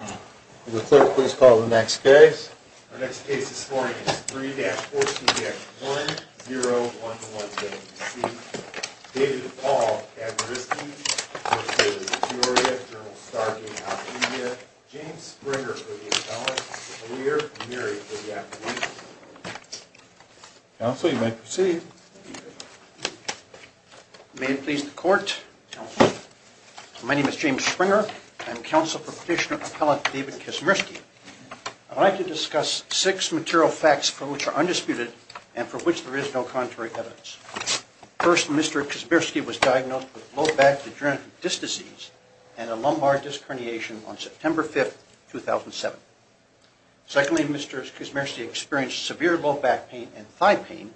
Mr. Clerk, please call the next case. Our next case this morning is 3-4CBX1011A-C. David DePaul v. Kavneriski v. Victoria v. General Starkey v. Alameda. James Springer v. Appellant v. Lear. Mary v. Appellant v. Lear. May it please the Court. My name is James Springer. I'm counsel for Petitioner Appellant David Kavneriski. I'd like to discuss six material facts for which are undisputed and for which there is no contrary evidence. First, Mr. Kavneriski was diagnosed with low back degenerative disc disease and a lumbar disc herniation on September 5, 2007. Secondly, Mr. Kavneriski experienced severe low back pain and thigh pain,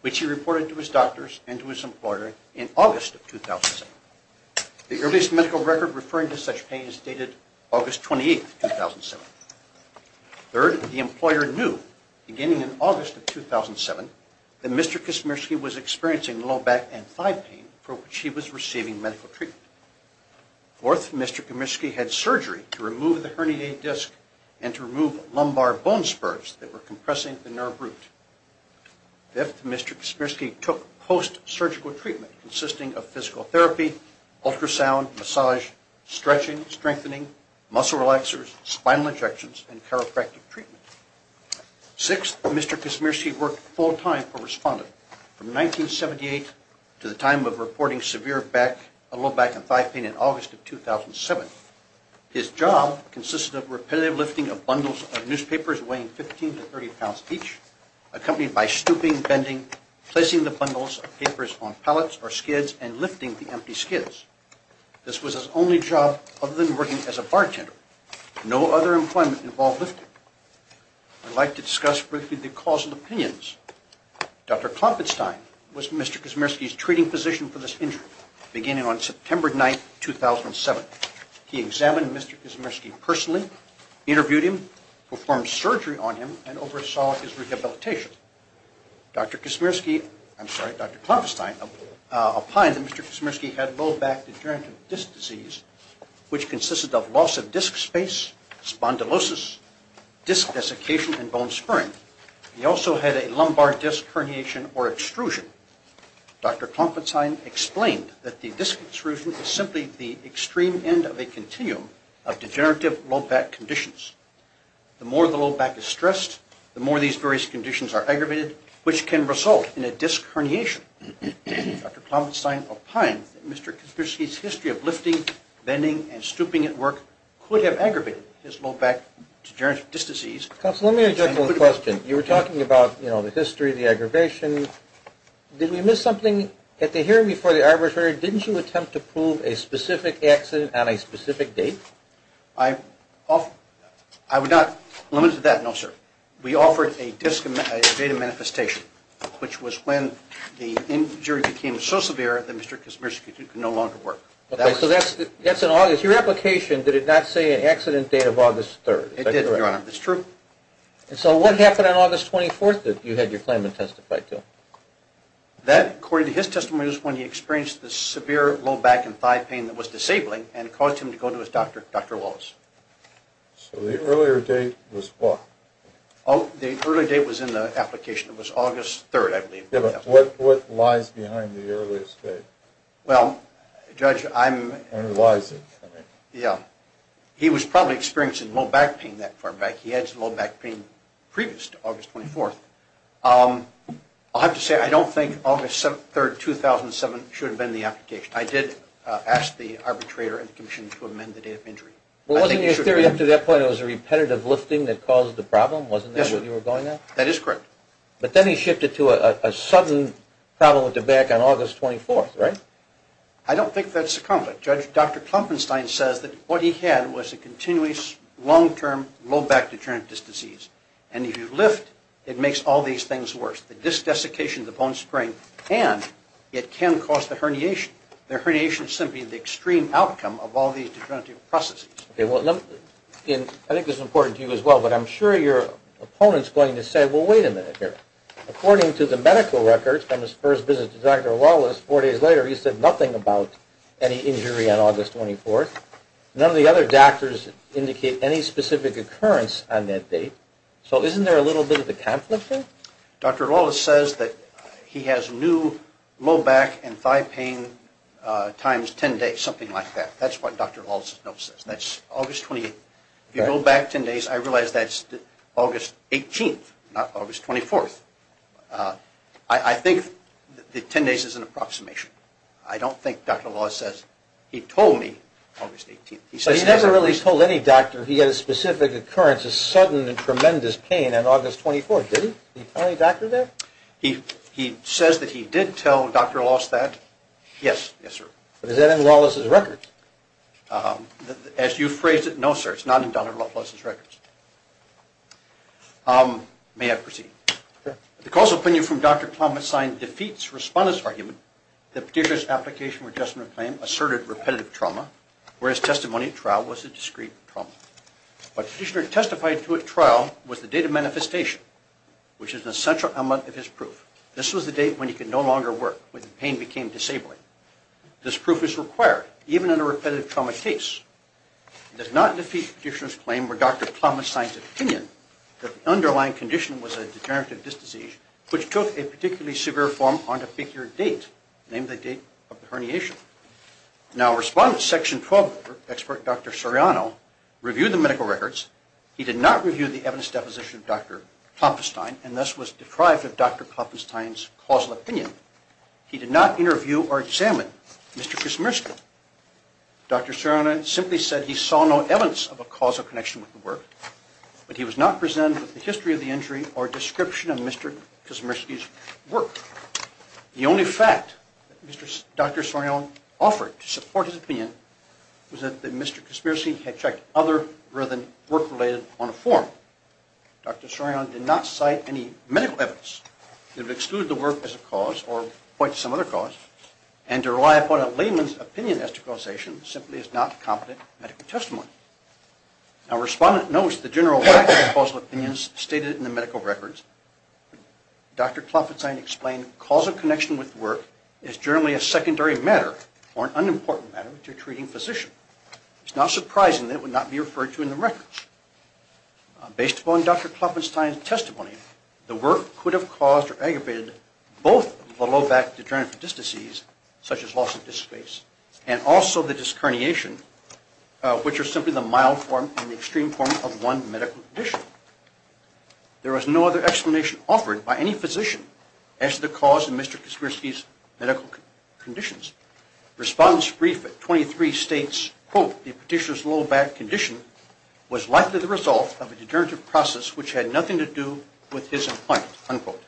which he reported to his doctors and to his employer in August of 2007. The earliest medical record referring to such pain is dated August 28, 2007. Third, the employer knew, beginning in August of 2007, that Mr. Kavneriski was experiencing low back and thigh pain for which he was receiving medical treatment. Fourth, Mr. Kavneriski had surgery to remove the herniated disc and to remove lumbar bone spurs that were compressing the nerve root. Fifth, Mr. Kavneriski took post-surgical treatment consisting of physical therapy, ultrasound, massage, stretching, strengthening, muscle relaxers, spinal injections, and chiropractic treatment. Sixth, Mr. Kavneriski worked full-time for Respondent from 1978 to the time of reporting severe low back and thigh pain in August of 2007. His job consisted of repetitive lifting of bundles of newspapers weighing 15 to 30 pounds each, accompanied by stooping, bending, placing the bundles of papers on pallets or skids, and lifting the empty skids. This was his only job other than working as a bartender. No other employment involved lifting. I'd like to discuss briefly the causal opinions. Dr. Klopfenstein was Mr. Kavneriski's treating physician for this injury, beginning on September 9, 2007. He examined Mr. Kavneriski personally, interviewed him, performed surgery on him, and oversaw his rehabilitation. Dr. Klopfenstein opined that Mr. Kavneriski had low back degenerative disc disease, which consisted of loss of disc space, spondylosis, disc desiccation, and bone spurring. He also had a lumbar disc herniation or extrusion. Dr. Klopfenstein explained that the disc extrusion is simply the extreme end of a continuum of degenerative low back conditions. The more the low back is stressed, the more these various conditions are aggravated, which can result in a disc herniation. Dr. Klopfenstein opined that Mr. Kavneriski's history of lifting, bending, and stooping at work could have aggravated his low back degenerative disc disease. Counsel, let me interject one question. You were talking about, you know, the history of the aggravation. Did we miss something? At the hearing before the arbitrary, didn't you attempt to prove a specific accident on a specific date? I would not limit it to that, no, sir. We offered a date of manifestation, which was when the injury became so severe that Mr. Kavneriski could no longer work. Okay, so that's in August. Your application, did it not say an accident date of August 3rd? It did, Your Honor. That's true. And so what happened on August 24th that you had your claimant testify to? That, according to his testimony, was when he experienced the severe low back and thigh pain that was disabling and caused him to go to his doctor, Dr. Wallace. So the earlier date was what? Oh, the earlier date was in the application. It was August 3rd, I believe. Yeah, but what lies behind the earlier date? Well, Judge, I'm... Underlies it. Yeah. He was probably experiencing low back pain that far back. He had some low back pain previous to August 24th. I'll have to say, I don't think August 3rd, 2007, should have been the application. I did ask the arbitrator and the commission to amend the date of injury. Well, wasn't your theory up to that point it was a repetitive lifting that caused the problem? Yes, sir. Wasn't that what you were going at? That is correct. But then he shifted to a sudden problem with the back on August 24th, right? I don't think that's accomplished. Judge, Dr. Klumpenstein says that what he had was a continuous, long-term, low back degenerative disease. And if you lift, it makes all these things worse. The disc desiccation, the bone sprain, and it can cause the herniation. The herniation is simply the extreme outcome of all these degenerative processes. Okay. I think this is important to you as well, but I'm sure your opponent is going to say, well, wait a minute here. According to the medical records from his first visit to Dr. Wallace four days later, he said nothing about any injury on August 24th. None of the other doctors indicate any specific occurrence on that date. So isn't there a little bit of a conflict there? Dr. Wallace says that he has new low back and thigh pain times 10 days, something like that. That's what Dr. Wallace's note says. That's August 28th. If you go back 10 days, I realize that's August 18th, not August 24th. I think the 10 days is an approximation. I don't think Dr. Wallace says, he told me August 18th. So he never really told any doctor he had a specific occurrence, a sudden and tremendous pain on August 24th, did he? Did he tell any doctor that? He says that he did tell Dr. Wallace that. Yes, sir. But is that in Wallace's records? As you phrased it, no, sir, it's not in Dr. Wallace's records. May I proceed? Sure. The causal opinion from Dr. Plummett's sign defeats respondent's argument that Petitioner's application for adjustment of claim asserted repetitive trauma, whereas testimony at trial was a discrete trauma. What Petitioner testified to at trial was the date of manifestation, which is an essential element of his proof. This was the date when he could no longer work, when the pain became disabling. This proof is required, even in a repetitive trauma case. It does not defeat Petitioner's claim where Dr. Plummett signs an opinion that the underlying condition was a deterrent to this disease, which took a particularly severe form on a bigger date, namely the date of the herniation. Now respondent section 12 expert Dr. Soriano reviewed the medical records. He did not review the evidence deposition of Dr. Klopfenstein, and thus was deprived of Dr. Klopfenstein's causal opinion. He did not interview or examine Mr. Krasmersky. Dr. Soriano simply said he saw no evidence of a causal connection with the work, but he was not presented with the history of the injury or description of Mr. Krasmersky's work. The only fact that Dr. Soriano offered to support his opinion was that Mr. Krasmersky had checked other rather than work-related on a form. Dr. Soriano did not cite any medical evidence that would exclude the work as a cause or point to some other cause, and to rely upon a layman's opinion as to causation simply is not competent medical testimony. Now respondent notes the general lack of causal opinions stated in the medical records. Dr. Klopfenstein explained causal connection with work is generally a secondary matter or an unimportant matter to a treating physician. It's not surprising that it would not be referred to in the records. Based upon Dr. Klopfenstein's testimony, the work could have caused or aggravated both the low back degenerative disc disease, such as loss of disc space, and also the disc herniation, which are simply the mild form and the extreme form of one medical condition. There was no other explanation offered by any physician as to the cause of Mr. Krasmersky's medical conditions. Respondent's brief at 23 states, quote, the petitioner's low back condition was likely the result of a degenerative process which had nothing to do with his employment, unquote.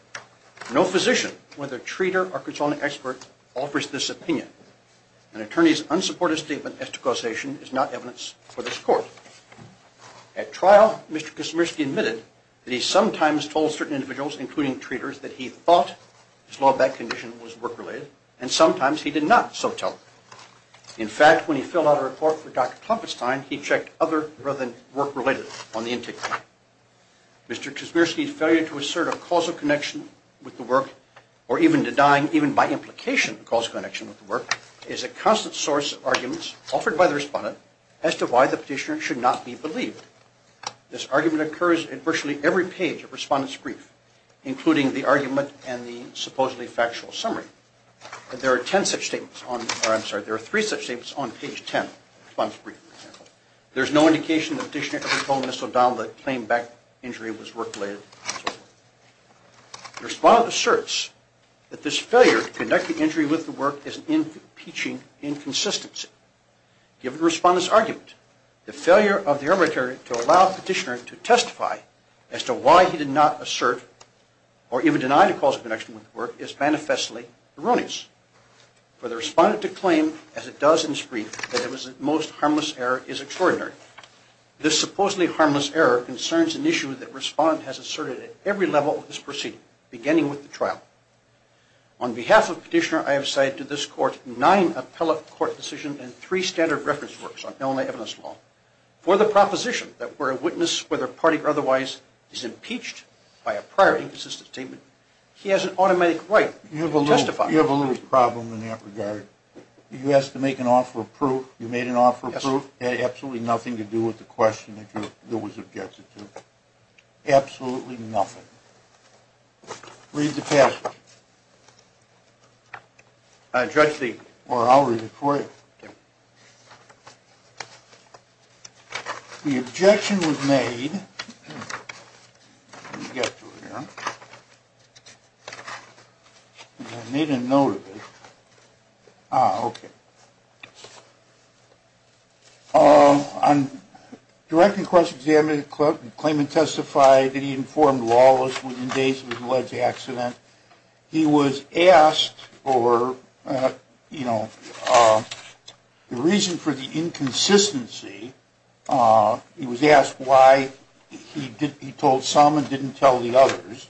No physician, whether treater or consulting expert, offers this opinion. An attorney's unsupported statement as to causation is not evidence for this court. At trial, Mr. Krasmersky admitted that he sometimes told certain individuals, including treaters, that he thought his low back condition was work-related, and sometimes he did not so tell. In fact, when he filled out a report for Dr. Klopfenstein, he checked other rather than work-related on the intake plan. Mr. Krasmersky's failure to assert a causal connection with the work, or even denying even by implication a causal connection with the work, is a constant source of arguments offered by the respondent as to why the petitioner should not be believed. This argument occurs at virtually every page of respondent's brief, including the argument and the supposedly factual summary. There is no indication the petitioner ever told Mr. O'Donnell that claimed back injury was work-related. The respondent asserts that this failure to conduct the injury with the work is an impeaching inconsistency. Given the respondent's argument, the failure of the arbitrator to allow the petitioner to testify as to why he did not assert or even deny the causal connection with the work is manifestly erroneous. For the respondent to claim, as it does in his brief, that it was a most harmless error is extraordinary. This supposedly harmless error concerns an issue that respondent has asserted at every level of this proceeding, beginning with the trial. On behalf of the petitioner, I have cited to this court nine appellate court decisions and three standard reference works on Illinois evidence law. For the proposition that where a witness, whether party or otherwise, is impeached by a prior inconsistent statement, he has an automatic right to testify. You have a little problem in that regard. You asked to make an offer of proof. You made an offer of proof. It had absolutely nothing to do with the question that you was objecting to. Absolutely nothing. Read the passage. I'll read it for you. The objection was made. Let me get through here. I made a note of it. Ah, okay. On direct and cross-examination, the claimant testified that he informed lawless within days of his alleged accident. He was asked for, you know, the reason for the inconsistency. He was asked why he told some and didn't tell the others.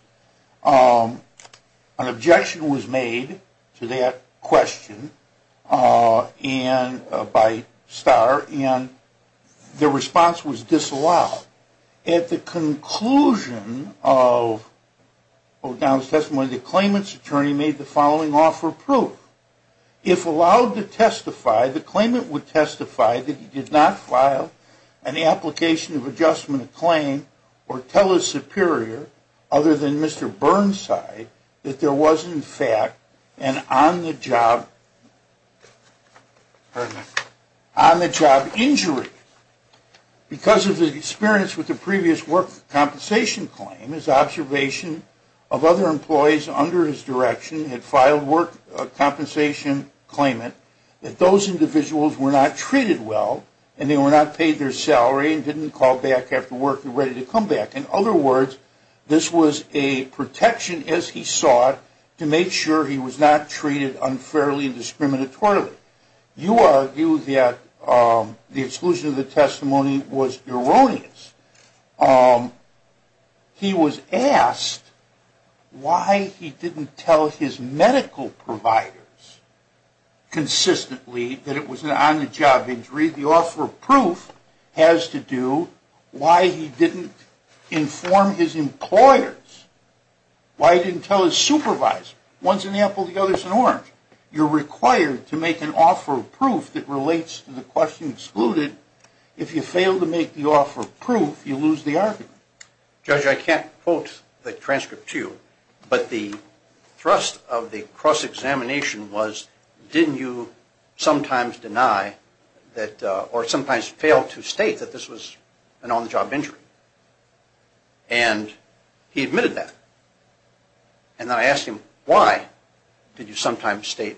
An objection was made to that question by Starr, and the response was disallowed. At the conclusion of O'Donnell's testimony, the claimant's attorney made the following offer of proof. If allowed to testify, the claimant would testify that he did not file an application of adjustment of claim or tell his superior other than Mr. Burnside that there was, in fact, an on-the-job injury. Because of the experience with the previous work compensation claim, his observation of other employees under his direction had filed work compensation claimant that those individuals were not treated well and they were not paid their salary and didn't call back after work and ready to come back. In other words, this was a protection, as he saw it, to make sure he was not treated unfairly and discriminatorily. You argue that the exclusion of the testimony was erroneous. He was asked why he didn't tell his medical providers consistently that it was an on-the-job injury. The offer of proof has to do why he didn't inform his employers. Why he didn't tell his supervisor. One's an apple, the other's an orange. You're required to make an offer of proof that relates to the question excluded. If you fail to make the offer of proof, you lose the argument. Judge, I can't quote the transcript to you, but the thrust of the cross-examination was didn't you sometimes deny or sometimes fail to state that this was an on-the-job injury? And he admitted that. And I asked him why did you sometimes state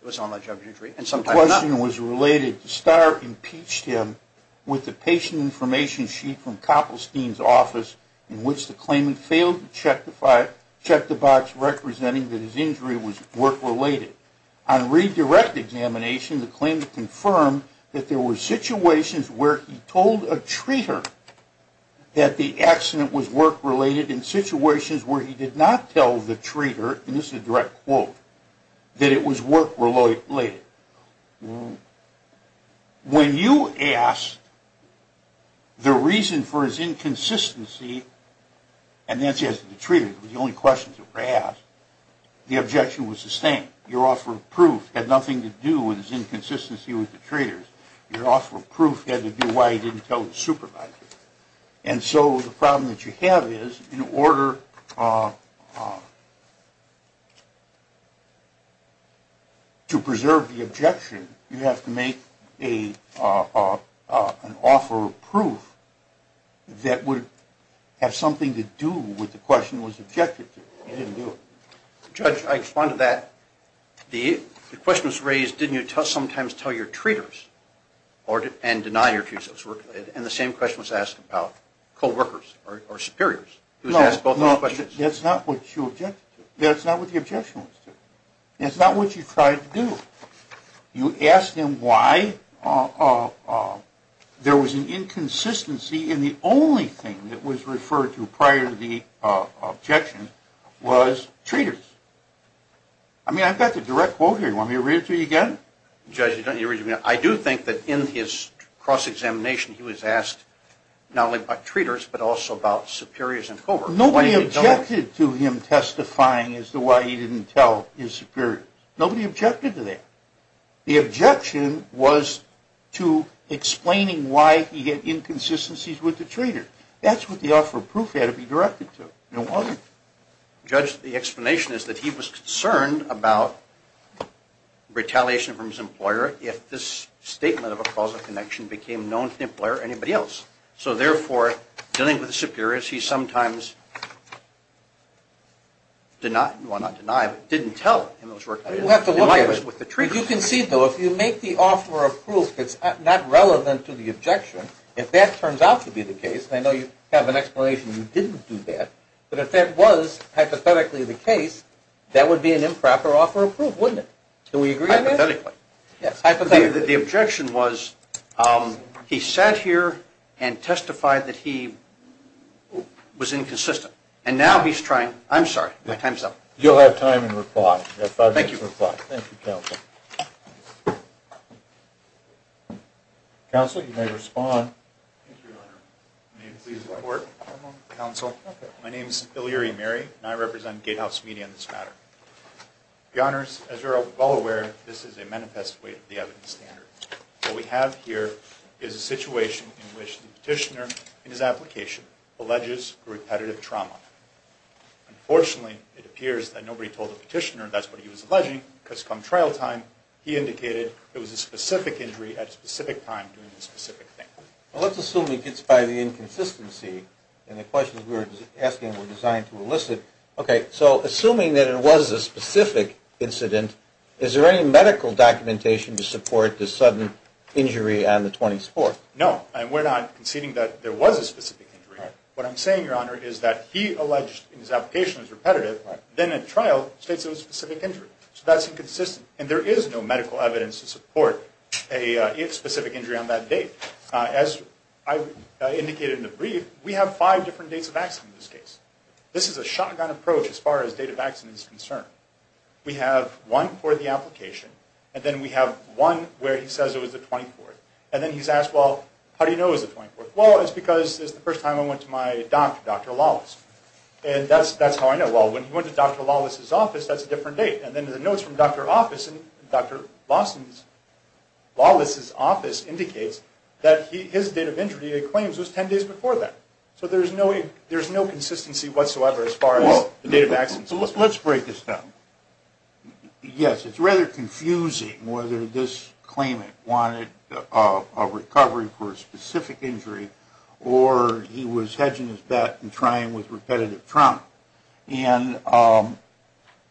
it was an on-the-job injury and sometimes not. The question was related to Starr impeached him with the patient information sheet from Koppelstein's office in which the claimant failed to check the box representing that his injury was work-related. On redirect examination, the claimant confirmed that there were situations where he told a treater that the accident was work-related in situations where he did not tell the treater, and this is a direct quote, that it was work-related. When you asked the reason for his inconsistency, and that's the answer to the treater, the only questions that were asked, the objection was sustained. Your offer of proof had nothing to do with his inconsistency with the treaters. Your offer of proof had to do why he didn't tell his supervisor. And so the problem that you have is in order to preserve the objection, you have to make an offer of proof that would have something to do with the question that was objected to. You didn't do it. Judge, I respond to that. The question was raised, didn't you sometimes tell your treaters and deny your accusers work-related? And the same question was asked about co-workers or superiors. That's not what you objected to. That's not what the objection was to. That's not what you tried to do. You asked him why there was an inconsistency, and the only thing that was referred to prior to the objection was treaters. I mean, I've got the direct quote here. Do you want me to read it to you again? I do think that in his cross-examination he was asked not only about treaters but also about superiors and co-workers. Nobody objected to him testifying as to why he didn't tell his superiors. Nobody objected to that. The objection was to explaining why he had inconsistencies with the treater. That's what the offer of proof had to be directed to. It wasn't. The explanation is that he was concerned about retaliation from his employer if this statement of a causal connection became known to the employer or anybody else. So therefore, dealing with superiors, he sometimes did not, well, not denied, but didn't tell in those work-related environments with the treaters. You can see, though, if you make the offer of proof that's not relevant to the objection, if that turns out to be the case, and I know you have an explanation you didn't do that, but if that was hypothetically the case, that would be an improper offer of proof, wouldn't it? Do we agree on that? Hypothetically. Yes. The objection was he sat here and testified that he was inconsistent, and now he's trying, I'm sorry, my time's up. You'll have time to reply. Thank you. Thank you, counsel. Counsel, you may respond. Thank you, Your Honor. May it please the court, counsel. My name is Ilyari Mary, and I represent Gatehouse Media in this matter. Your Honors, as you're all aware, this is a manifest way of the evidence standard. What we have here is a situation in which the petitioner in his application alleges repetitive trauma. Unfortunately, it appears that nobody told the petitioner that's what he was alleging because from trial time he indicated it was a specific injury at a specific time during a specific thing. Well, let's assume it's by the inconsistency, and the questions we were asking were designed to elicit. Okay, so assuming that it was a specific incident, is there any medical documentation to support the sudden injury on the 24th? No, and we're not conceding that there was a specific injury. What I'm saying, Your Honor, is that he alleged in his application it was repetitive, then at trial states it was a specific injury, so that's inconsistent, and there is no medical evidence to support a specific injury on that date. As I indicated in the brief, we have five different dates of accident in this case. This is a shotgun approach as far as date of accident is concerned. We have one for the application, and then we have one where he says it was the 24th, and then he's asked, well, how do you know it was the 24th? Well, it's because it's the first time I went to my doctor, Dr. Lawless, and that's how I know. Well, when he went to Dr. Lawless's office, that's a different date. And then the notes from Dr. Lawless's office indicates that his date of injury, it claims, was 10 days before that. So there's no consistency whatsoever as far as the date of accident is concerned. Let's break this down. Yes, it's rather confusing whether this claimant wanted a recovery for a specific injury or he was hedging his bet and trying with repetitive trauma. And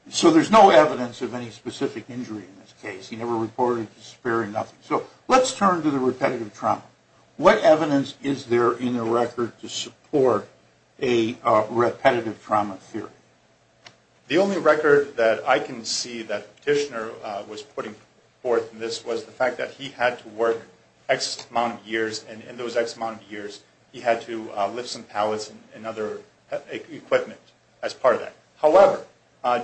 so there's no evidence of any specific injury in this case. He never reported to SPARE or nothing. So let's turn to the repetitive trauma. What evidence is there in the record to support a repetitive trauma theory? The only record that I can see that the petitioner was putting forth in this was the fact that he had to work X amount of years, and in those X amount of years he had to lift some pallets and other equipment as part of that. However,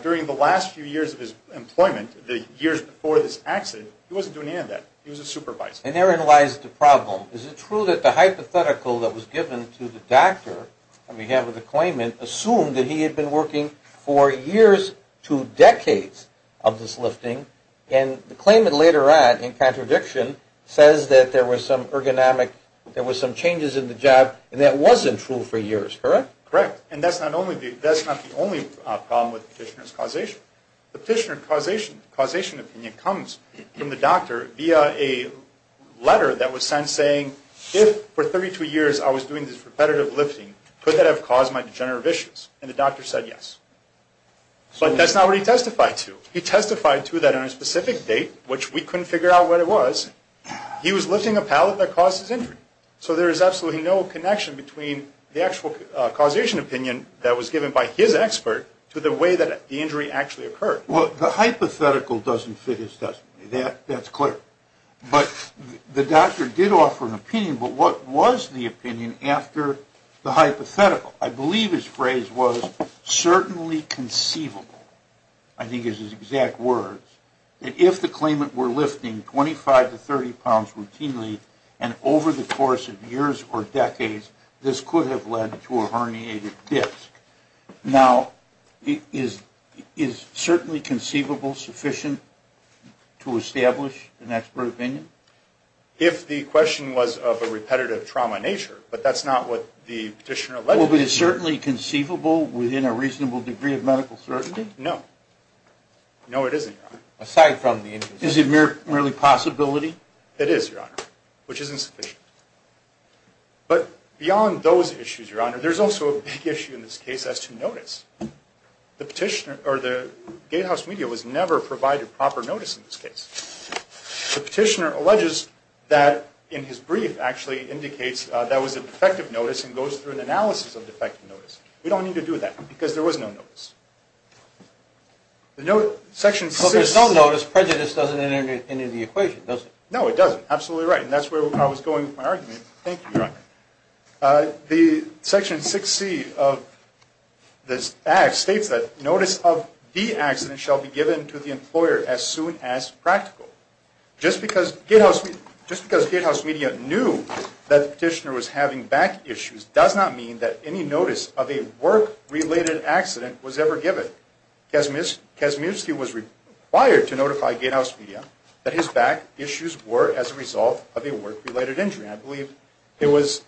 during the last few years of his employment, the years before this accident, he wasn't doing any of that. He was a supervisor. And therein lies the problem. Is it true that the hypothetical that was given to the doctor on behalf of the claimant assumed that he had been working for years to decades of this lifting? And the claimant later on, in contradiction, says that there was some ergonomic, there was some changes in the job, and that wasn't true for years, correct? Correct. And that's not the only problem with the petitioner's causation. The petitioner's causation opinion comes from the doctor via a letter that was sent saying, if for 32 years I was doing this repetitive lifting, could that have caused my degenerative issues? And the doctor said yes. But that's not what he testified to. He testified to that on a specific date, which we couldn't figure out what it was. He was lifting a pallet that caused his injury. So there is absolutely no connection between the actual causation opinion that was given by his expert to the way that the injury actually occurred. Well, the hypothetical doesn't fit his testimony. That's clear. But the doctor did offer an opinion, but what was the opinion after the hypothetical? I believe his phrase was, certainly conceivable, I think is his exact words, that if the claimant were lifting 25 to 30 pounds routinely, and over the course of years or decades, this could have led to a herniated disc. Now, is certainly conceivable sufficient to establish an expert opinion? If the question was of a repetitive trauma nature, but that's not what the petitioner alleged. Well, but is certainly conceivable within a reasonable degree of medical certainty? No. No, it isn't, Your Honor. Aside from the injury. Is it merely possibility? It is, Your Honor, which is insufficient. But beyond those issues, Your Honor, there's also a big issue in this case as to notice. The petitioner or the gatehouse media was never provided proper notice in this case. The petitioner alleges that in his brief actually indicates that was effective notice and goes through an analysis of defective notice. We don't need to do that, because there was no notice. Section 6. Well, there's no notice. Prejudice doesn't enter the equation, does it? No, it doesn't. Absolutely right. And that's where I was going with my argument. Thank you, Your Honor. The Section 6C of this act states that notice of the accident shall be given to the employer as soon as practical. Just because gatehouse media knew that the petitioner was having back issues does not mean that any notice of a work-related accident was ever given. Kazminsky was required to notify gatehouse media that his back issues were as a result of a work-related injury. I believe it was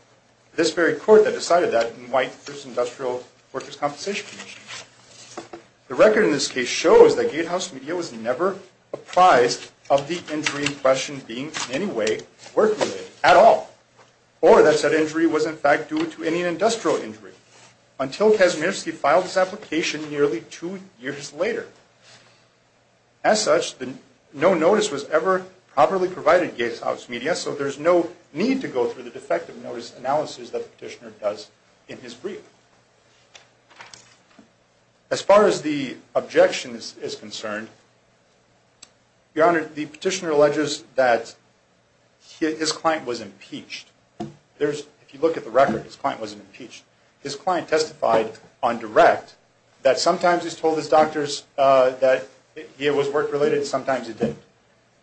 this very court that decided that in light of this Industrial Workers' Compensation Commission. The record in this case shows that gatehouse media was never apprised of the injury in question being in any way work-related at all. Or that said injury was in fact due to any industrial injury. Until Kazminsky filed his application nearly two years later. As such, no notice was ever properly provided gatehouse media, so there's no need to go through the defective notice analysis that the petitioner does in his brief. As far as the objection is concerned, Your Honor, the petitioner alleges that his client was impeached. If you look at the record, his client wasn't impeached. His client testified on direct that sometimes he's told his doctors that it was work-related and sometimes it didn't.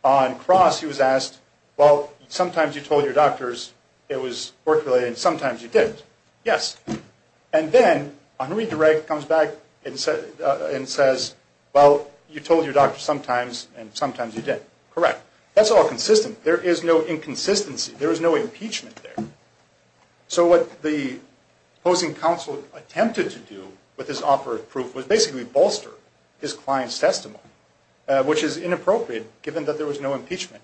On cross, he was asked, well, sometimes you told your doctors it was work-related and sometimes you didn't. Yes. And then on redirect comes back and says, well, you told your doctor sometimes and sometimes you didn't. Correct. That's all consistent. There is no inconsistency. There is no impeachment there. So what the opposing counsel attempted to do with this operative proof was basically bolster his client's testimony. Which is inappropriate given that there was no impeachment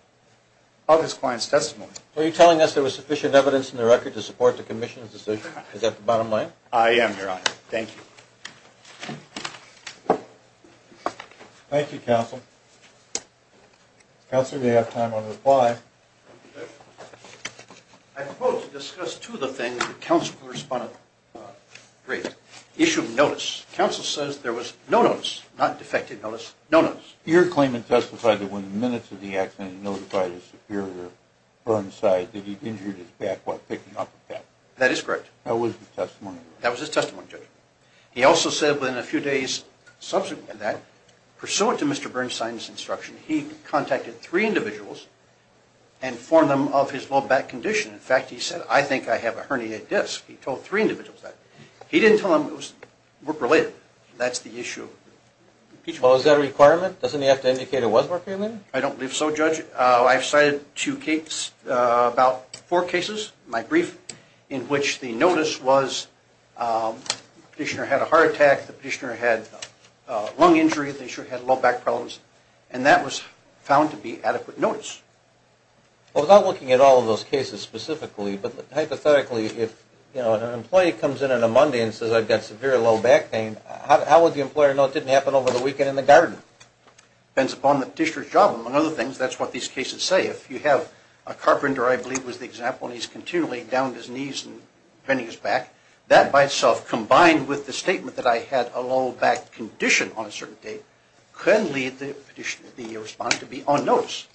of his client's testimony. Are you telling us there was sufficient evidence in the record to support the commission's decision? Is that the bottom line? I am, Your Honor. Thank you. Thank you, counsel. Counsel, you have time on reply. I propose to discuss two of the things that counsel corresponded on. Great. Issue of notice. Counsel says there was no notice, not defective notice, no notice. Your claim had testified that when minutes of the accident notified his superior, Burnside, that he'd injured his back while picking up a pet. That is correct. That was his testimony. That was his testimony, Judge. He also said within a few days subsequent to that, pursuant to Mr. Burnside's instruction, he contacted three individuals and informed them of his low back condition. In fact, he said, I think I have a herniated disc. He told three individuals that. He didn't tell them it was work-related. That's the issue. Well, is that a requirement? Doesn't he have to indicate it was work-related? I don't believe so, Judge. I've cited two cases, about four cases, my brief, in which the notice was the petitioner had a heart attack, the petitioner had a lung injury, the petitioner had low back problems, and that was found to be adequate notice. Well, without looking at all of those cases specifically, but hypothetically, if an employee comes in on a Monday and says, I've got severe low back pain, how would the employer know it didn't happen over the weekend in the garden? Depends upon the petitioner's job. Among other things, that's what these cases say. If you have a carpenter, I believe was the example, and he's continually downed his knees and bending his back, that by itself, combined with the statement that I had a low back condition on a certain date, can lead the respondent to be on notice.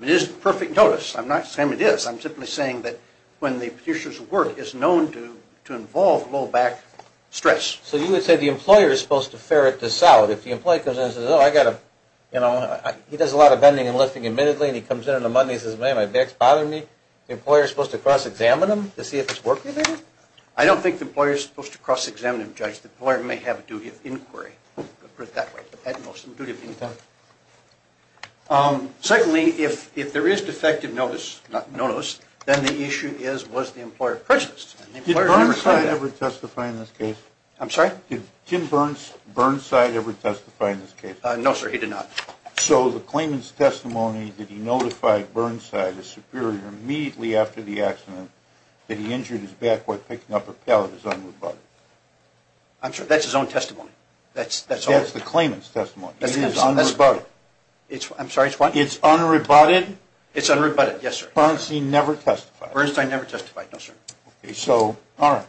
It isn't perfect notice. I'm not saying it is. I'm simply saying that when the petitioner's work is known to involve low back stress. So you would say the employer is supposed to ferret this out. If the employee comes in and says, oh, he does a lot of bending and lifting admittedly, and he comes in on a Monday and says, man, my back's bothering me, the employer is supposed to cross-examine him to see if it's work-related? I don't think the employer is supposed to cross-examine him, Judge. The employer may have a duty of inquiry. Secondly, if there is defective notice, not notice, then the issue is, was the employer prejudiced? Did Burnside ever testify in this case? I'm sorry? Did Tim Burnside ever testify in this case? No, sir, he did not. So the claimant's testimony that he notified Burnside, his superior, immediately after the accident, that he injured his back while picking up a pallet is unrebutted? I'm sorry, that's his own testimony. That's the claimant's testimony. It is unrebutted. I'm sorry, it's what? It's unrebutted? It's unrebutted, yes, sir. Burnside never testified? Burnside never testified, no, sir. Okay, so, all right.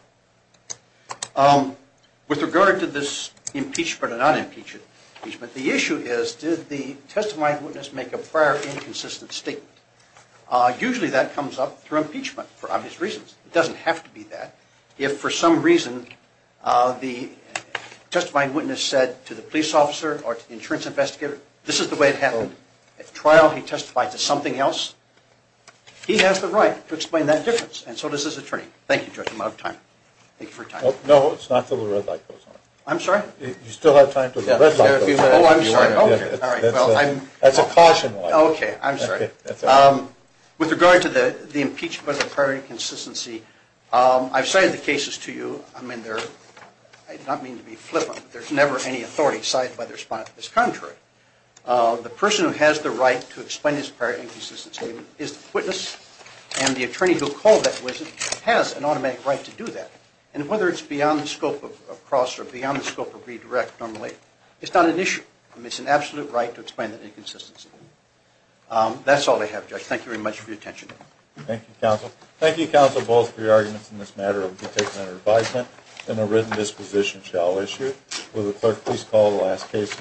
With regard to this impeachment or non-impeachment, the issue is, did the testifying witness make a prior inconsistent statement? Usually that comes up through impeachment for obvious reasons. It doesn't have to be that. If for some reason the testifying witness said to the police officer or to the insurance investigator, this is the way it happened, at trial he testified to something else, he has the right to explain that difference, and so does his attorney. Thank you, Judge, I'm out of time. Thank you for your time. No, it's not until the red light goes on. I'm sorry? You still have time until the red light goes on. Oh, I'm sorry. That's a caution. Okay, I'm sorry. With regard to the impeachment of the prior inconsistency, I've cited the cases to you. I mean, I do not mean to be flippant, but there's never any authority cited by the respondent that's contrary. The person who has the right to explain his prior inconsistency is the witness, and the attorney who called that witness has an automatic right to do that. And whether it's beyond the scope of cross or beyond the scope of redirect normally, it's not an issue. It's an absolute right to explain that inconsistency. That's all I have, Judge. Thank you very much for your attention. Thank you, Counsel. Thank you, Counsel, both, for your arguments in this matter of detainment or advisement. And a written disposition shall issue. Will the clerk please call the last case?